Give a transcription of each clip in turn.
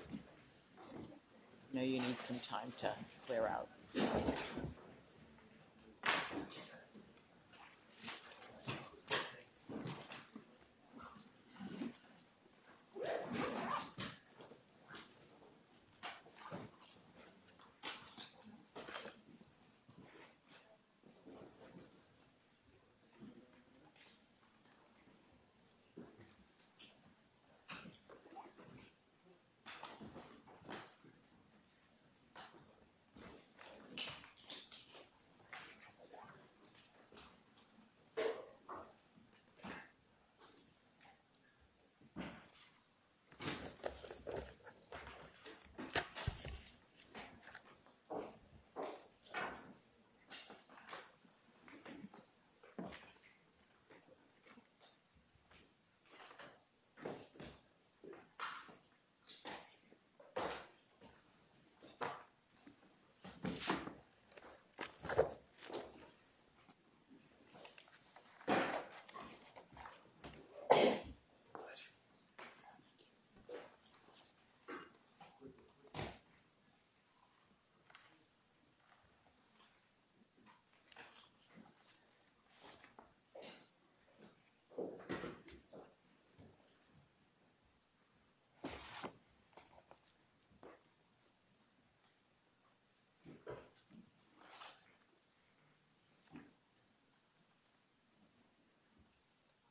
I know you need some time to clear out.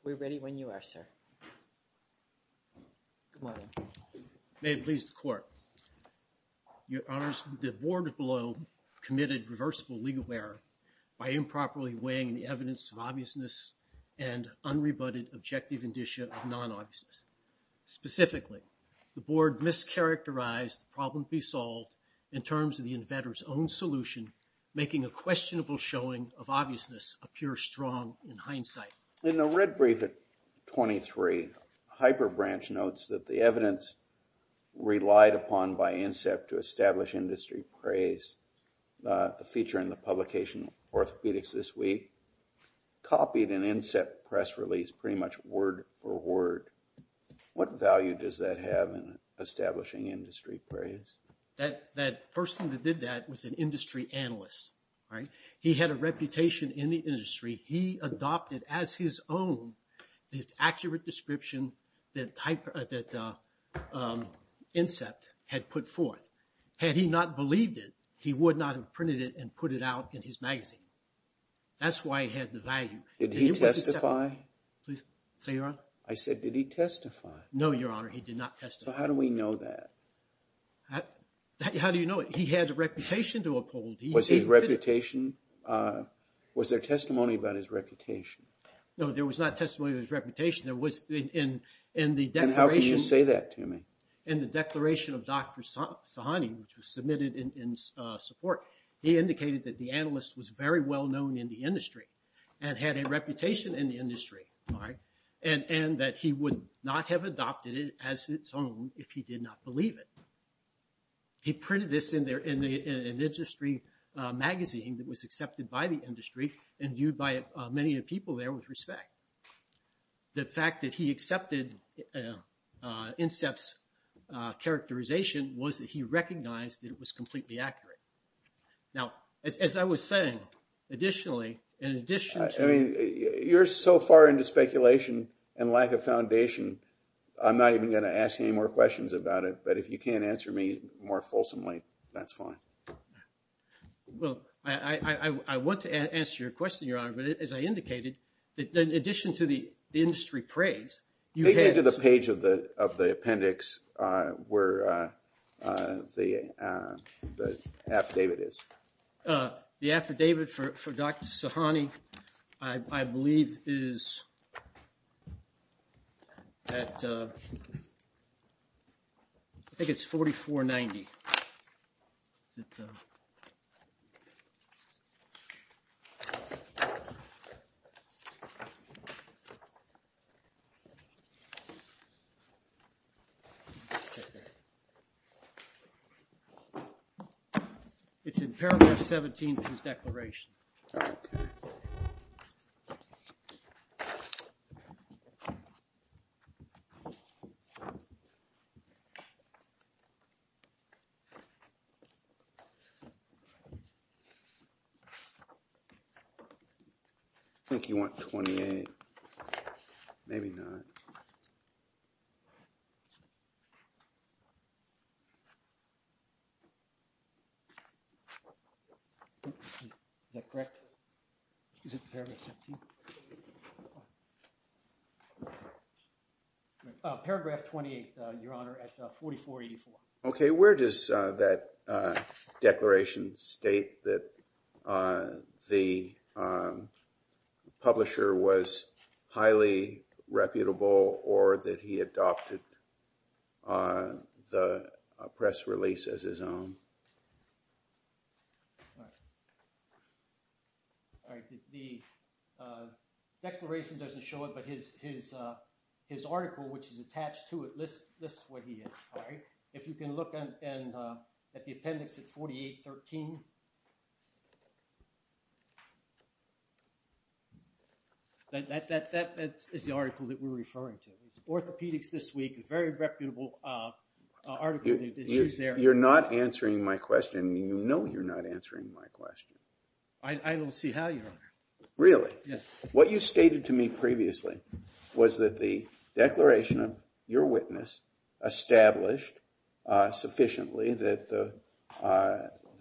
We're ready when you are, sir. Good morning. May it please the Court. Your Honors, the Board below committed reversible legal error by improperly weighing the evidence of obviousness and unrebutted objective indicia of non-obviousness. Specifically, the Board mischaracterized the problem to be solved in terms of the inventor's own solution, making a questionable showing of obviousness appear strong in hindsight. In the red brief at 23, HyperBranch notes that the evidence relied upon by Incept to establish industry praise, the feature in the publication of orthopedics this week, copied an Incept press release pretty much word for word. What value does that have in establishing industry praise? That person that did that was an industry analyst. He had a reputation in the industry. He adopted as his own the accurate description that Incept had put forth. Had he not believed it, he would not have printed it and put it out in his magazine. That's why he had the value. Did he testify? Please, say your Honor. I said, did he testify? No, Your Honor, he did not testify. So how do we know that? How do you know it? He had a reputation to uphold. Was there testimony about his reputation? No, there was not testimony about his reputation. And how can you say that to me? In the declaration of Dr. Sahani, which was submitted in support, he indicated that the analyst was very well known in the industry and had a reputation in the industry. And that he would not have adopted it as his own if he did not believe it. He printed this in an industry magazine that was accepted by the industry and viewed by many people there with respect. The fact that he accepted Incept's characterization was that he recognized that it was completely accurate. Now, as I was saying, additionally, in addition to… I mean, you're so far into speculation and lack of foundation, I'm not even going to ask any more questions about it. But if you can't answer me more fulsomely, that's fine. Well, I want to answer your question, Your Honor, but as I indicated, in addition to the industry praise… Take me to the page of the appendix where the affidavit is. The affidavit for Dr. Sahani, I believe, is at… I think it's 4490. It's in paragraph 17 of his declaration. I think you want 28. Maybe not. Is that correct? Is it paragraph 17? Paragraph 28, Your Honor, at 4484. Okay, where does that declaration state that the publisher was highly reputable or that he adopted the press release as his own? The declaration doesn't show it, but his article, which is attached to it, lists what he did. If you can look at the appendix at 4813, that is the article that we're referring to. Orthopedics This Week, a very reputable article. You're not answering my question. You know you're not answering my question. I don't see how, Your Honor. What you stated to me previously was that the declaration of your witness established sufficiently that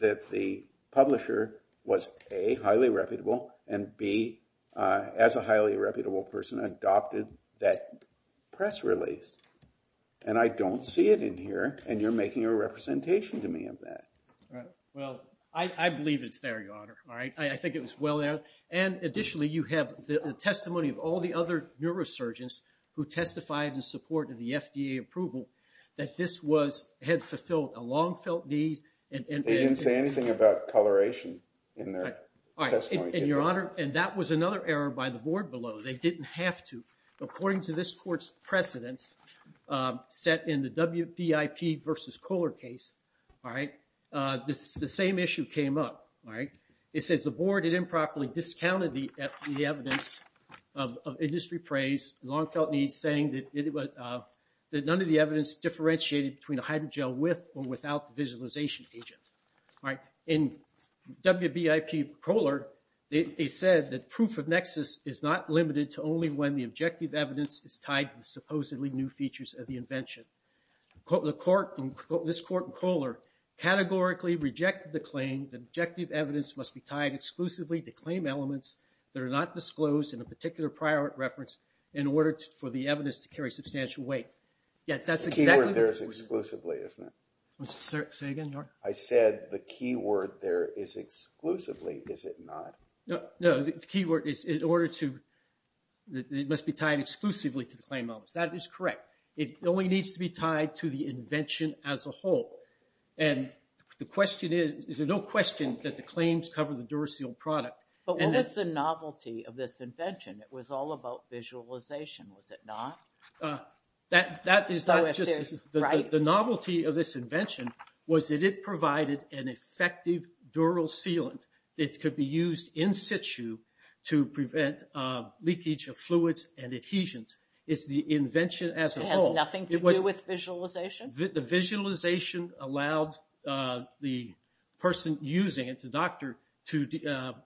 the publisher was, A, highly reputable, and B, as a highly reputable person, adopted that press release. And I don't see it in here, and you're making a representation to me of that. Well, I believe it's there, Your Honor. I think it was well there. And additionally, you have the testimony of all the other neurosurgeons who testified in support of the FDA approval that this had fulfilled a long-felt need. They didn't say anything about coloration in their testimony. And that was another error by the board below. They didn't have to. According to this court's precedents set in the WBIP versus Kohler case, the same issue came up. It says the board had improperly discounted the evidence of industry praise, long-felt needs, saying that none of the evidence differentiated between a hydrogel with or without the visualization agent. In WBIP-Kohler, they said that proof of nexus is not limited to only when the objective evidence is tied to the supposedly new features of the invention. This court in Kohler categorically rejected the claim that objective evidence must be tied exclusively to claim elements that are not disclosed in a particular prior reference in order for the evidence to carry substantial weight. The key word there is exclusively, isn't it? Say again, Your Honor. I said the key word there is exclusively, is it not? No, the key word is it must be tied exclusively to the claim elements. That is correct. It only needs to be tied to the invention as a whole. And the question is, there's no question that the claims cover the Duracell product. But what was the novelty of this invention? It was all about visualization, was it not? The novelty of this invention was that it provided an effective dural sealant. It could be used in situ to prevent leakage of fluids and adhesions. It's the invention as a whole. It has nothing to do with visualization? The visualization allowed the person using it, the doctor, to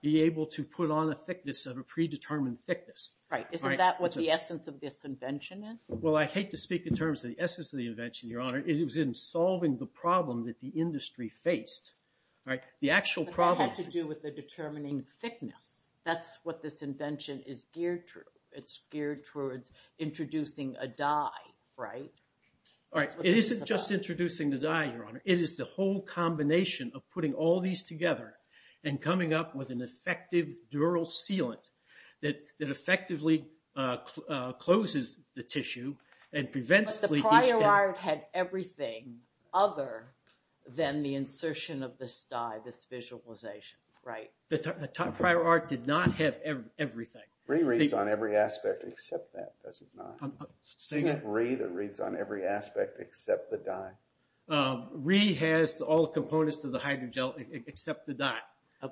be able to put on a thickness of a predetermined thickness. Right, isn't that what the essence of this invention is? Well, I hate to speak in terms of the essence of the invention, Your Honor. It was in solving the problem that the industry faced. But that had to do with the determining thickness. That's what this invention is geared to. It's geared towards introducing a dye, right? It isn't just introducing the dye, Your Honor. It is the whole combination of putting all these together and coming up with an effective dural sealant that effectively closes the tissue and prevents leakage. But the prior art had everything other than the insertion of this dye, this visualization, right? The prior art did not have everything. Rhe reads on every aspect except that, does it not? Isn't it Rhe that reads on every aspect except the dye? Rhe has all the components to the hydrogel except the dye.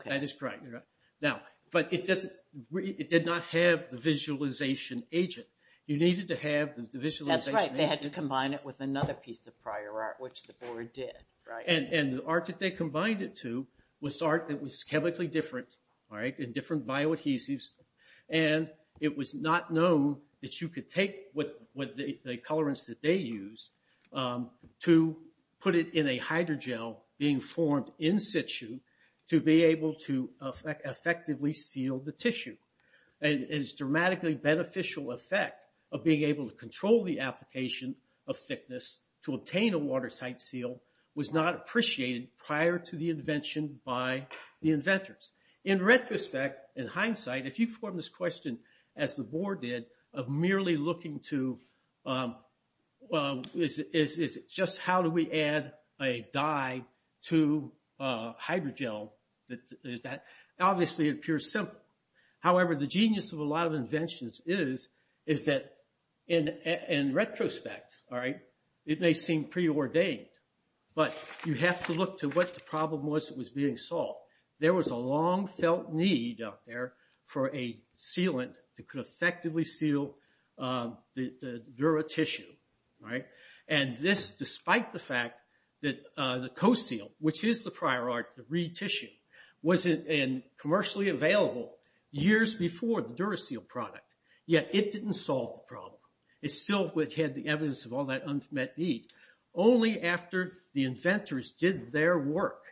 That is correct, Your Honor. But it did not have the visualization agent. You needed to have the visualization agent. That's right. They had to combine it with another piece of prior art, which the board did, right? And the art that they combined it to was art that was chemically different, all right, and different bioadhesives. And it was not known that you could take the colorants that they use to put it in a hydrogel being formed in-situ to be able to effectively seal the tissue. And its dramatically beneficial effect of being able to control the application of thickness to obtain a water-site seal was not appreciated prior to the invention by the inventors. In retrospect, in hindsight, if you form this question, as the board did, of merely looking to just how do we add a dye to hydrogel, that obviously appears simple. However, the genius of a lot of inventions is that in retrospect, all right, it may seem preordained, but you have to look to what the problem was that was being solved. There was a long-felt need out there for a sealant that could effectively seal the dura tissue, right? And this, despite the fact that the CoSeal, which is the prior art, the re-tissue, was commercially available years before the DuraSeal product, yet it didn't solve the problem. It still had the evidence of all that unmet need. Only after the inventors did their work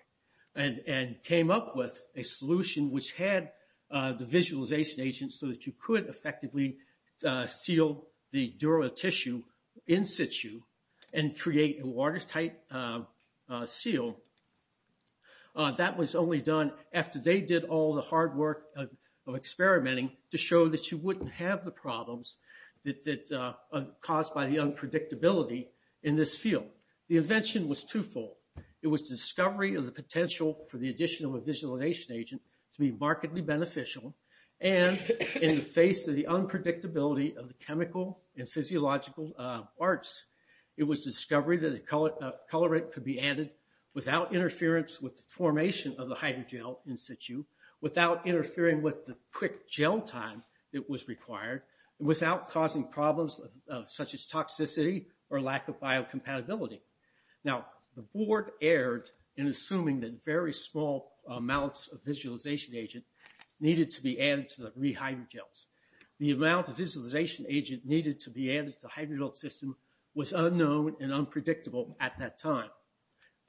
and came up with a solution which had the visualization agent so that you could effectively seal the dura tissue in situ and create a water-site seal, that was only done after they did all the hard work of experimenting to show that you wouldn't have the problems caused by the unpredictability in this field. The invention was two-fold. It was discovery of the potential for the addition of a visualization agent to be markedly beneficial, and in the face of the unpredictability of the chemical and physiological arts, it was discovery that a colorant could be added without interference with the formation of the hydrogel in situ, without interfering with the quick gel time that was required, without causing problems such as toxicity or lack of biocompatibility. Now, the board erred in assuming that very small amounts of visualization agent needed to be added to the rehydrogels. The amount of visualization agent needed to be added to the hydrogel system was unknown and unpredictable at that time.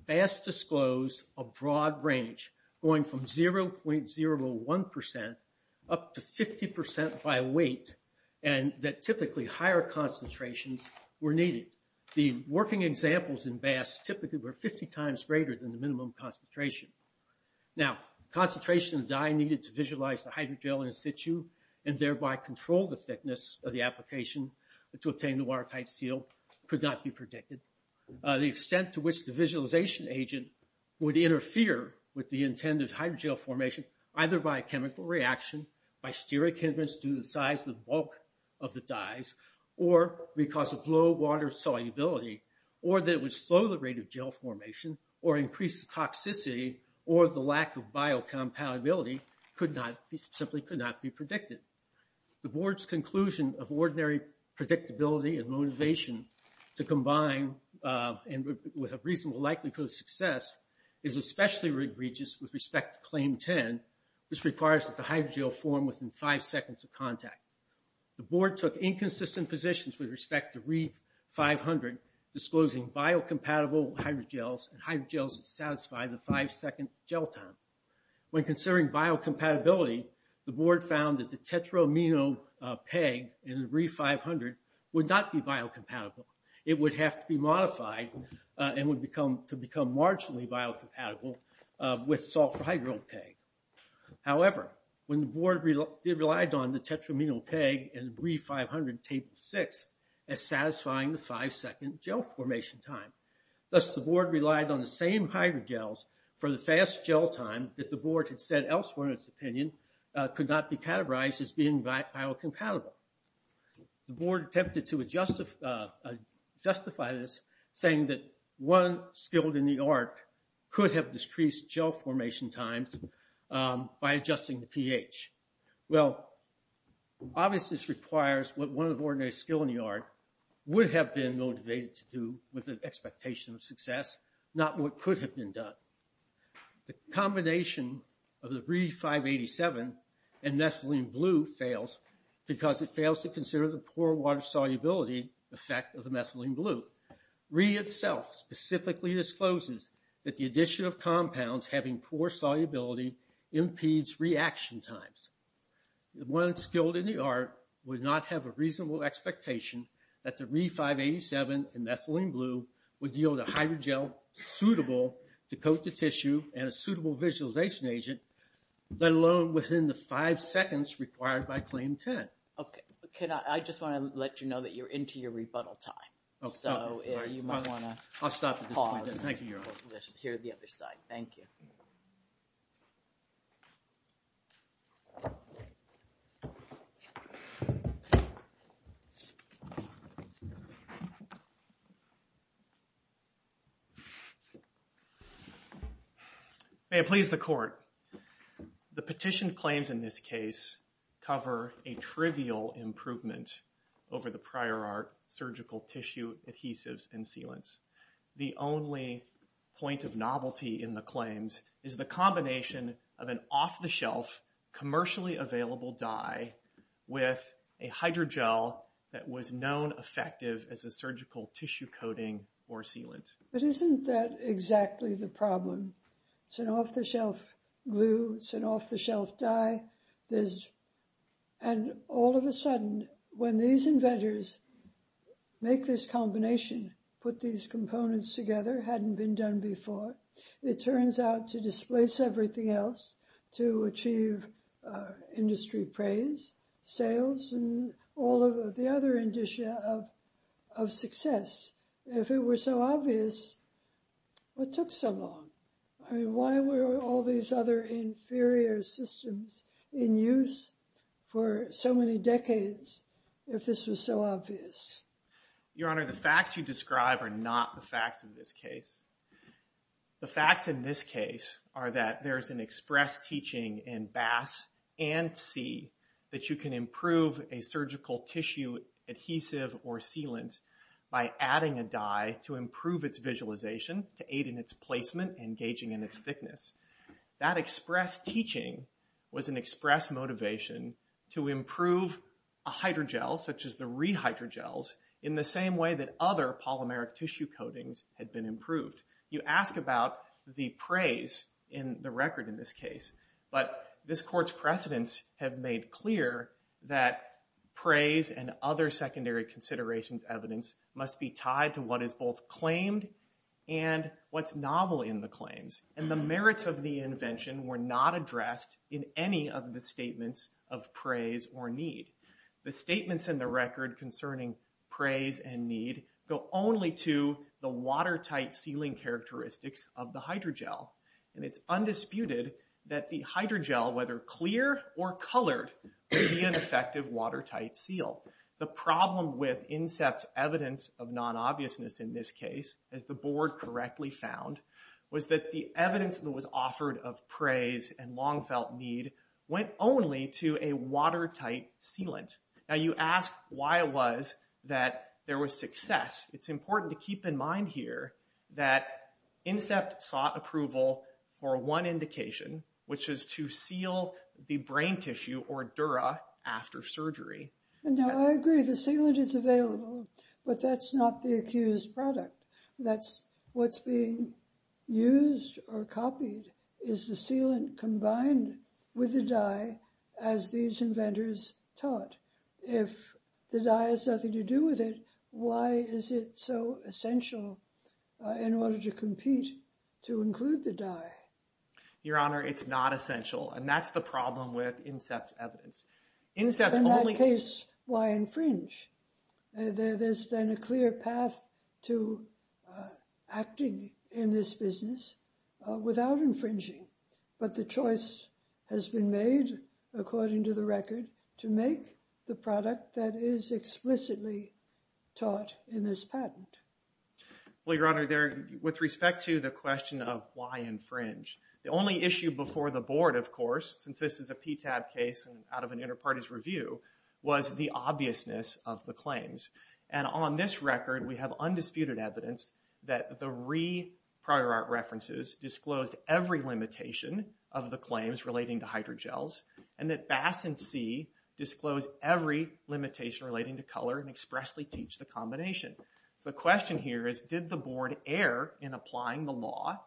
BAS disclosed a broad range, going from 0.01% up to 50% by weight, and that typically higher concentrations were needed. The working examples in BAS typically were 50 times greater than the minimum concentration. Now, concentration of dye needed to visualize the hydrogel in situ and thereby control the thickness of the application to obtain the water-site seal could not be predicted. The extent to which the visualization agent would interfere with the intended hydrogel formation, either by a chemical reaction, by steric hindrance to the size of the bulk of the dyes, or because of low water solubility, or that it would slow the rate of gel formation, or increase the toxicity, or the lack of biocompatibility simply could not be predicted. The Board's conclusion of ordinary predictability and motivation to combine with a reasonable likelihood of success is especially egregious with respect to Claim 10. This requires that the hydrogel form within five seconds of contact. The Board took inconsistent positions with respect to ReEDS-500, disclosing biocompatible hydrogels and hydrogels that satisfy the five-second gel time. When considering biocompatibility, the Board found that the tetraamino PEG in ReEDS-500 would not be biocompatible. It would have to be modified to become marginally biocompatible with sulfur hydrogel PEG. However, when the Board relied on the tetraamino PEG in ReEDS-500 Table 6 as satisfying the five-second gel formation time, thus the Board relied on the same hydrogels for the fast gel time that the Board had said elsewhere in its opinion could not be categorized as being biocompatible. The Board attempted to justify this saying that one skilled in the art could have decreased gel formation times by adjusting the pH. Well, obviously this requires what one of the ordinary skilled in the art would have been motivated to do with an expectation of success, not what could have been done. The combination of the ReEDS-587 and methylene blue fails because it fails to consider the poor water solubility effect of the methylene blue. ReEDS itself specifically discloses that the addition of compounds having poor solubility impedes reaction times. One skilled in the art would not have a reasonable expectation that the ReEDS-587 and methylene blue would deal with a hydrogel suitable to coat the tissue and a suitable visualization agent, let alone within the five seconds required by Claim 10. I just want to let you know that you're into your rebuttal time. May it please the Court. The petition claims in this case cover a trivial improvement over the prior art, surgical tissue adhesives and sealants. The only point of novelty in the claims is the combination of an off-the-shelf, commercially available dye with a hydrogel that was known effective as a surgical tissue coating or sealant. But isn't that exactly the problem? It's an off-the-shelf glue. It's an off-the-shelf dye. And all of a sudden, when these inventors make this combination, put these components together, hadn't been done before, it turns out to displace everything else to achieve industry praise, sales, and all of the other indicia of success. If it were so obvious, what took so long? I mean, why were all these other inferior systems in use for so many decades if this was so obvious? Your Honor, the facts you describe are not the facts in this case. The facts in this case are that there's an express teaching in BAS and C that you can improve a surgical tissue adhesive or sealant by adding a dye to improve its visualization, to aid in its placement and gauging in its thickness. That express teaching was an express motivation to improve a hydrogel, such as the rehydrogels, in the same way that other polymeric tissue coatings had been improved. You ask about the praise in the record in this case. But this Court's precedents have made clear that praise and other secondary considerations evidence must be tied to what is both claimed and what's novel in the claims. And the merits of the invention were not addressed in any of the statements of praise or need. The statements in the record concerning praise and need go only to the watertight sealing characteristics of the hydrogel. And it's undisputed that the hydrogel, whether clear or colored, may be an effective watertight seal. The problem with INSEPT's evidence of non-obviousness in this case, as the Board correctly found, was that the evidence that was offered of praise and long-felt need went only to a watertight sealant. Now you ask why it was that there was success. It's important to keep in mind here that INSEPT sought approval for one indication, which is to seal the brain tissue, or dura, after surgery. Now, I agree the sealant is available, but that's not the accused product. That's what's being used or copied is the sealant combined with the dye, as these inventors taught. If the dye has nothing to do with it, why is it so essential in order to compete to include the dye? Your Honor, it's not essential. And that's the problem with INSEPT's evidence. In that case, why infringe? There's then a clear path to acting in this business without infringing. But the choice has been made, according to the record, to make the product that is explicitly taught in this patent. Well, Your Honor, with respect to the question of why infringe, the only issue before the Board, of course, since this is a PTAB case and out of an inter-party's review, was the obviousness of the claims. And on this record, we have undisputed evidence that the re-prior art references disclosed every limitation of the claims relating to hydrogels, and that BAS and C disclosed every limitation relating to color and expressly teach the combination. So the question here is, did the Board err in applying the law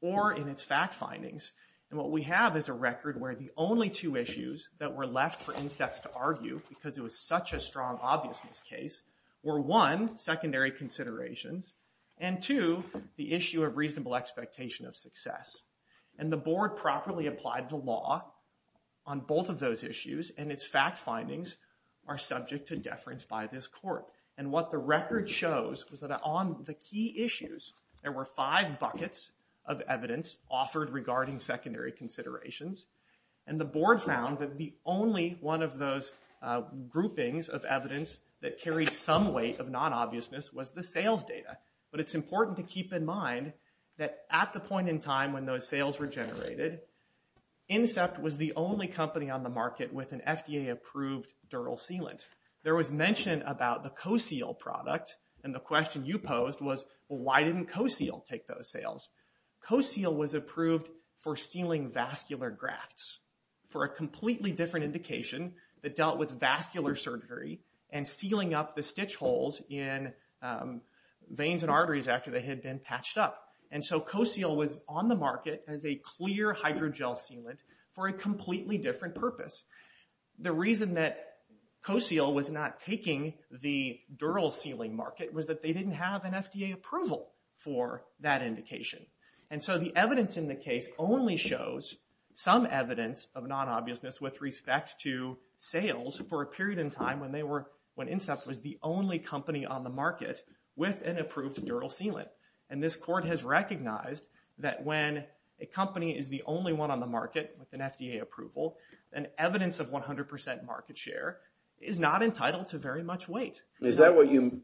or in its fact findings? And what we have is a record where the only two issues that were left for INSEPT to argue, because it was such a strong obviousness case, were one, secondary considerations, and two, the issue of reasonable expectation of success. And the Board properly applied the law on both of those issues, and its fact findings are subject to deference by this court. And what the record shows is that on the key issues, there were five buckets of evidence offered regarding secondary considerations, and the Board found that the only one of those groupings of evidence that carried some weight of non-obviousness was the sales data. But it's important to keep in mind that at the point in time when those sales were generated, INSEPT was the only company on the market with an FDA-approved dural sealant. There was mention about the CoSeal product, and the question you posed was, well, why didn't CoSeal take those sales? CoSeal was approved for sealing vascular grafts for a completely different indication that dealt with vascular surgery and sealing up the stitch holes in veins and arteries after they had been patched up. And so CoSeal was on the market as a clear hydrogel sealant for a completely different purpose. The reason that CoSeal was not taking the dural sealing market was that they didn't have an FDA approval for that indication. And so the evidence in the case only shows some evidence of non-obviousness with respect to sales for a period in time when INSEPT was the only company on the market with an approved dural sealant. And this court has recognized that when a company is the only one on the market with an FDA approval, an evidence of 100% market share is not entitled to very much weight. Is that what you...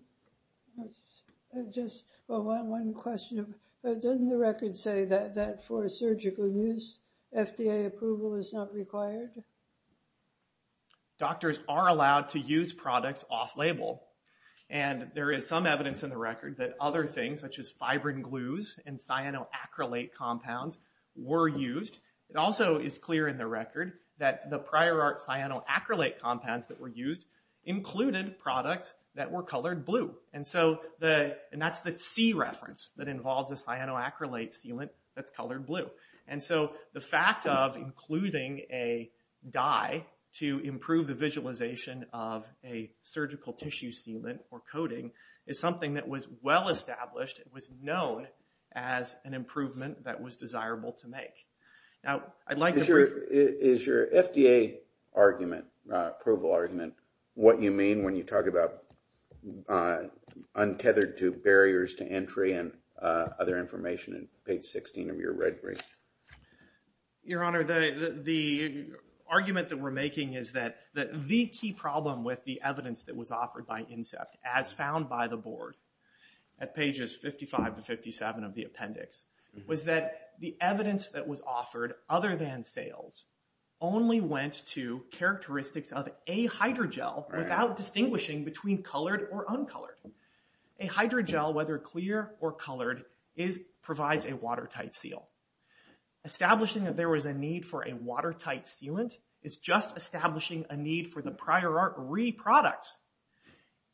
Just one question. Doesn't the record say that for surgical use, FDA approval is not required? Doctors are allowed to use products off-label. And there is some evidence in the record that other things, such as fibrin glues and cyanoacrylate compounds, were used. It also is clear in the record that the prior art cyanoacrylate compounds that were used included products that were colored blue. And that's the C reference that involves a cyanoacrylate sealant that's colored blue. And so the fact of including a dye to improve the visualization of a surgical tissue sealant or coating is something that was well-established and was known as an improvement that was desirable to make. Now, I'd like to... Is your FDA approval argument what you mean when you talk about untethered barriers to entry and other information in page 16 of your red brief? Your Honor, the argument that we're making is that the key problem with the evidence that was offered by INSEPT, as found by the board at pages 55 to 57 of the appendix, was that the evidence that was offered other than sales only went to characteristics of a hydrogel without distinguishing between colored or uncolored. A hydrogel, whether clear or colored, provides a watertight seal. Establishing that there was a need for a watertight sealant is just establishing a need for the prior art re-products.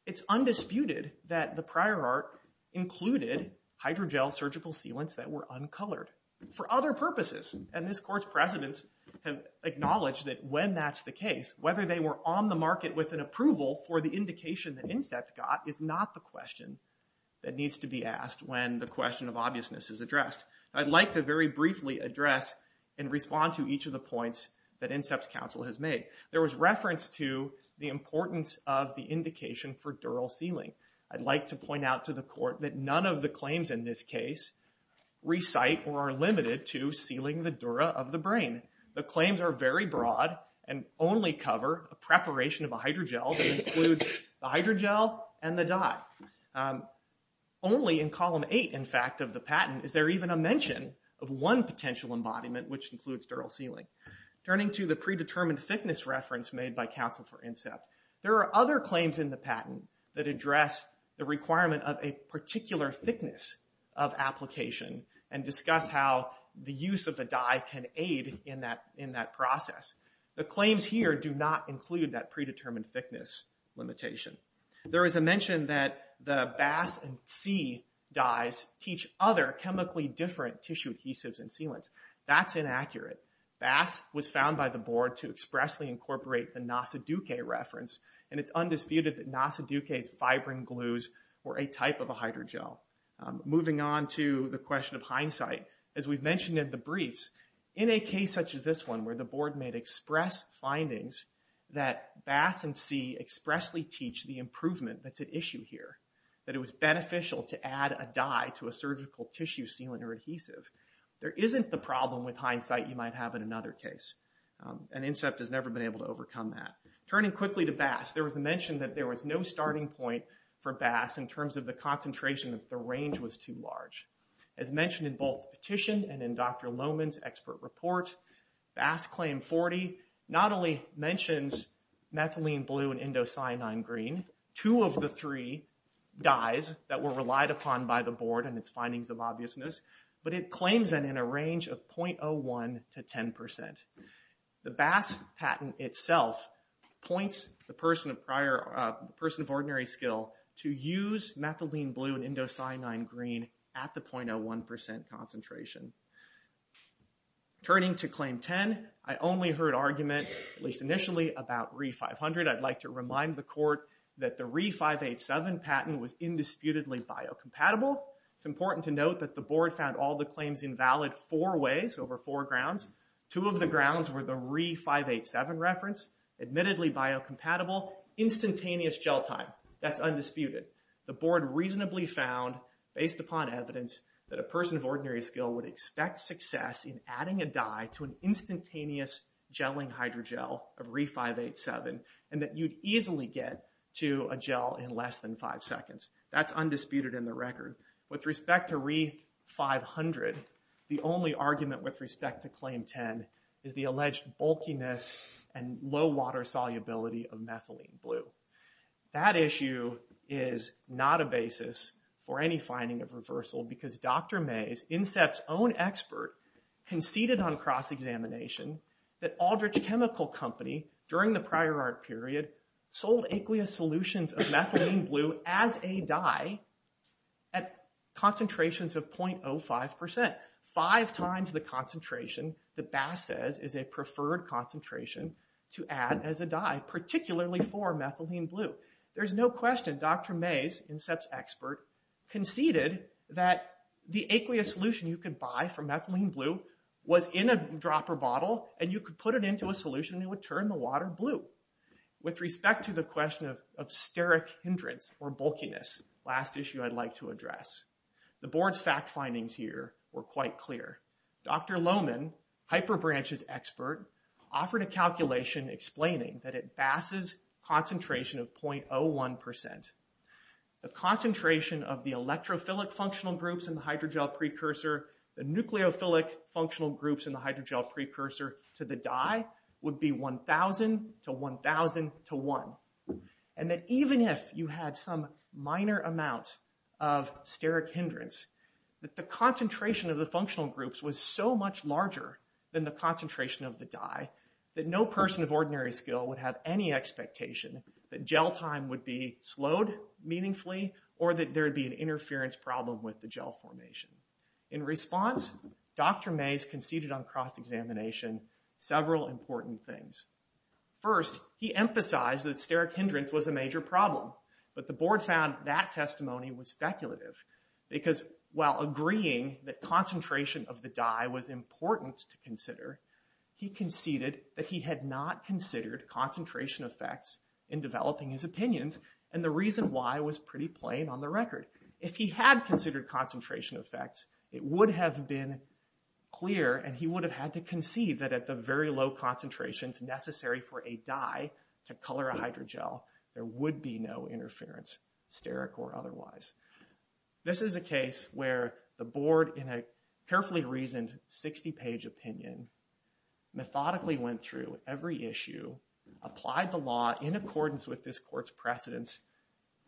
It's undisputed that the prior art included hydrogel surgical sealants that were uncolored for other purposes. And this Court's precedents have acknowledged that when that's the case, whether they were on the market with an approval for the indication that INSEPT got is not the question that needs to be asked when the question of obviousness is addressed. I'd like to very briefly address and respond to each of the points that INSEPT's counsel has made. There was reference to the importance of the indication for dural sealing. I'd like to point out to the Court that none of the claims in this case recite or are limited to sealing the dura of the brain. The claims are very broad and only cover a preparation of a hydrogel that includes the hydrogel and the dye. Only in column 8, in fact, of the patent is there even a mention of one potential embodiment, which includes dural sealing. Turning to the predetermined thickness reference made by counsel for INSEPT, there are other claims in the patent that address the requirement of a particular thickness of application and discuss how the use of the dye can aid in that process. The claims here do not include that predetermined thickness limitation. There is a mention that the BAS and C dyes teach other chemically different tissue adhesives and sealants. That's inaccurate. BAS was found by the Board to expressly incorporate the NACEDUKE reference, and it's undisputed that NACEDUKE's fibrin glues were a type of a hydrogel. Moving on to the question of hindsight, as we've mentioned in the briefs, in a case such as this one where the Board made express findings that BAS and C expressly teach the improvement that's at issue here, that it was beneficial to add a dye to a surgical tissue sealant or adhesive, there isn't the problem with hindsight you might have in another case. And INSEPT has never been able to overcome that. Turning quickly to BAS, there was a mention that there was no starting point for BAS in terms of the concentration, that the range was too large. As mentioned in both the petition and in Dr. Loman's expert report, BAS claim 40 not only mentions methylene blue and indocyanine green, two of the three dyes that were relied upon by the Board and its findings of obviousness, but it claims that in a range of 0.01 to 10%. The BAS patent itself points the person of ordinary skill to use methylene blue and indocyanine green at the 0.01% concentration. Turning to Claim 10, I only heard argument, at least initially, about Re500. I'd like to remind the Court that the Re587 patent was indisputably biocompatible. It's important to note that the Board found all the claims invalid four ways, over four grounds. Two of the grounds were the Re587 reference, admittedly biocompatible, instantaneous gel time. That's undisputed. The Board reasonably found, based upon evidence, that a person of ordinary skill would expect success in adding a dye to an instantaneous gelling hydrogel of Re587 and that you'd easily get to a gel in less than five seconds. That's undisputed in the record. With respect to Re500, the only argument with respect to Claim 10 is the alleged bulkiness and low water solubility of methylene blue. That issue is not a basis for any finding of reversal because Dr. Mays, INSEPT's own expert, conceded on cross-examination that Aldrich Chemical Company, during the prior art period, sold aqueous solutions of methylene blue as a dye at concentrations of 0.05%. Five times the concentration that Bass says is a preferred concentration to add as a dye, particularly for methylene blue. There's no question Dr. Mays, INSEPT's expert, conceded that the aqueous solution you could buy for methylene blue was in a dropper bottle and you could put it into a solution that would turn the water blue. With respect to the question of steric hindrance or bulkiness, last issue I'd like to address, the board's fact findings here were quite clear. Dr. Lohmann, HyperBranch's expert, offered a calculation explaining that at Bass's concentration of 0.01%, the concentration of the electrophilic functional groups in the hydrogel precursor, the nucleophilic functional groups in the hydrogel precursor to the dye would be 1,000 to 1,000 to 1. And that even if you had some minor amount of steric hindrance, that the concentration of the functional groups was so much larger than the concentration of the dye that no person of ordinary skill would have any expectation that gel time would be slowed meaningfully or that there would be an interference problem with the gel formation. In response, Dr. Mays conceded on cross-examination several important things. First, he emphasized that steric hindrance was a major problem, but the board found that testimony was speculative, because while agreeing that concentration of the dye was important to consider, he conceded that he had not considered concentration effects in developing his opinions and the reason why was pretty plain on the record. If he had considered concentration effects, it would have been clear and he would have had to concede that at the very low concentrations necessary for a dye to color a hydrogel, there would be no interference, steric or otherwise. This is a case where the board, in a carefully reasoned 60-page opinion, methodically went through every issue, applied the law in accordance with this court's precedence,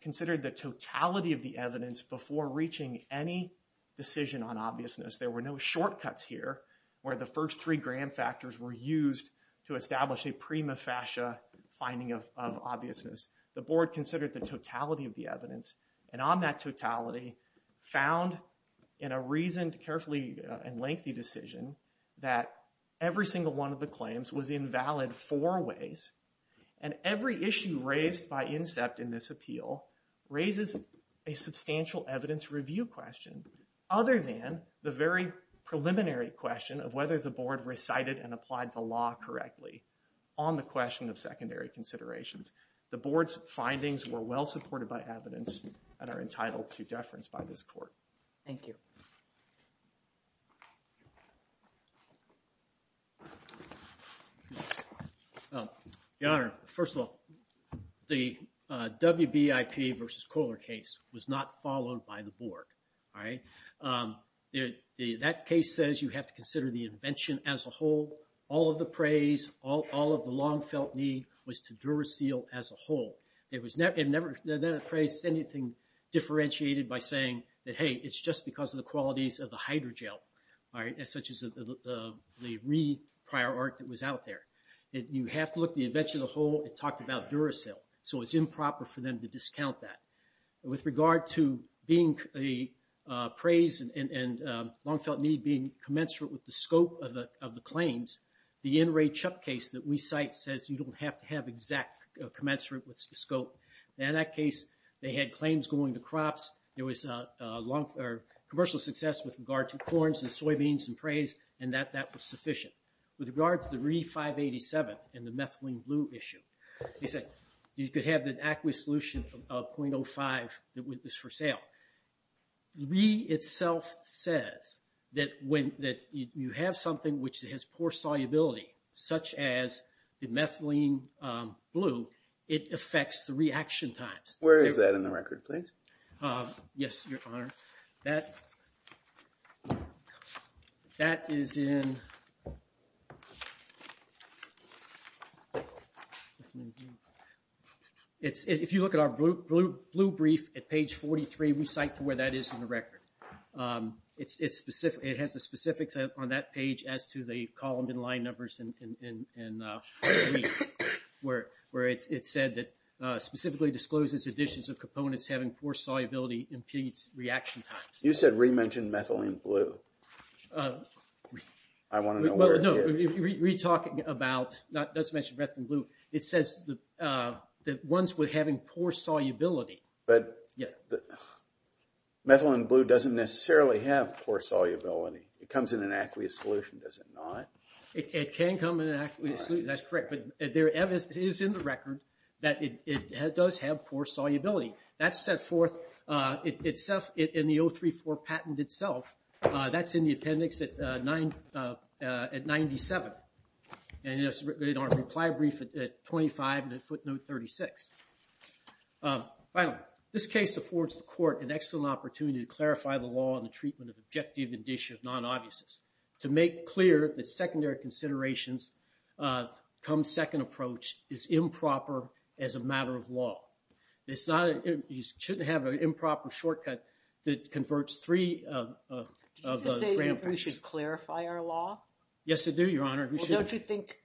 considered the totality of the evidence before reaching any decision on obviousness. There were no shortcuts here where the first three grand factors were used to establish a prima facie finding of obviousness. The board considered the totality of the evidence and on that totality, found in a reasoned, carefully and lengthy decision, that every single one of the claims was invalid four ways and every issue raised by INSEPT in this appeal raises a substantial evidence review question other than the very preliminary question of whether the board recited and applied the law correctly on the question of secondary considerations. The board's findings were well supported by evidence and are entitled to deference by this court. Thank you. Your Honor, first of all, the WBIP versus Kohler case was not followed by the board. That case says you have to consider the invention as a whole. All of the praise, all of the long-felt need was to Duracell as a whole. It was never praised as anything differentiated by saying that, hey, it's just because of the qualities of the hydrogel, such as the re-prior art that was out there. You have to look at the invention as a whole. It talked about Duracell, so it's improper for them to discount that. With regard to praise and long-felt need being commensurate with the scope of the claims, the NRA CHUP case that we cite says you don't have to have exact commensurate with the scope. In that case, they had claims going to crops. There was commercial success with regard to corns and soybeans and praise, and that was sufficient. With regard to the RE-587 and the methylene blue issue, you could have the aqueous solution of 0.05 that was for sale. RE itself says that when you have something which has poor solubility, such as the methylene blue, it affects the reaction times. Where is that in the record, please? Yes, Your Honor. If you look at our blue brief at page 43, we cite to where that is in the record. It has the specifics on that page as to the column and line numbers in the brief, where it said that specifically discloses additions of components having poor solubility impedes reaction times. You said re-mention methylene blue. I want to know where it is. No, re-talking about, it doesn't mention methylene blue. It says that ones with having poor solubility. Methylene blue doesn't necessarily have poor solubility. It comes in an aqueous solution, does it not? It can come in an aqueous solution, that's correct. But it is in the record that it does have poor solubility. That's set forth in the 034 patent itself. That's in the appendix at 97. And it's in our reply brief at 25 and footnote 36. Finally, this case affords the court an excellent opportunity to clarify the law and the treatment of objective addition of non-obviousness. To make clear that secondary considerations come second approach is improper as a matter of law. It's not, you shouldn't have an improper shortcut that converts three of the grand functions. Did you say we should clarify our law? Yes, I do, Your Honor. Well, don't you think,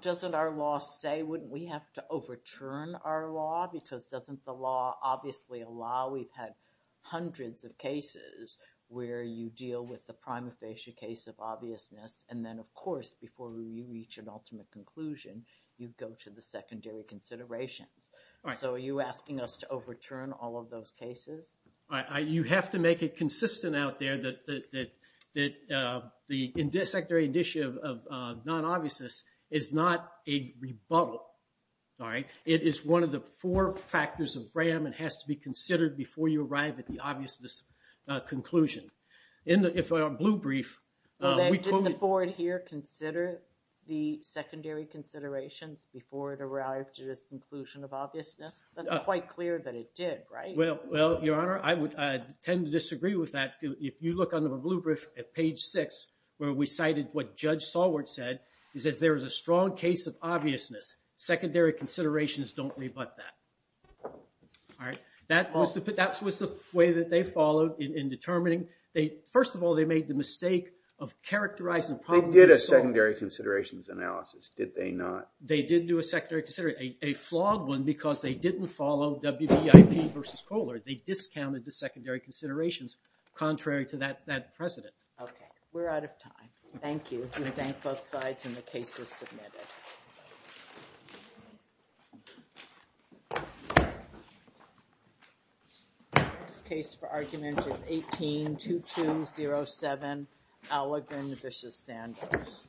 doesn't our law say we have to overturn our law? Because doesn't the law obviously allow, we've had hundreds of cases where you deal with the prima facie case of obviousness and then, of course, before you reach an ultimate conclusion, you go to the secondary considerations. So are you asking us to overturn all of those cases? You have to make it consistent out there that the secondary addition of non-obviousness is not a rebuttal. It is one of the four factors of BRAM and has to be considered before you arrive at the obviousness conclusion. In the blue brief, we told you... Did the board here consider the secondary considerations before it arrived to this conclusion of obviousness? That's quite clear that it did, right? Well, Your Honor, I would tend to disagree with that. If you look under the blue brief at page six, where we cited what Judge Solward said, he says there is a strong case of obviousness. Secondary considerations don't rebut that. All right. That was the way that they followed in determining... First of all, they made the mistake of characterizing... They did a secondary considerations analysis, did they not? They did do a secondary consideration. A flawed one because they didn't follow WBIP versus Kohler. They discounted the secondary considerations contrary to that precedent. Okay. We're out of time. Thank you. We thank both sides and the case is submitted. This case for argument is 18-2207, Allegrin v. Sanders.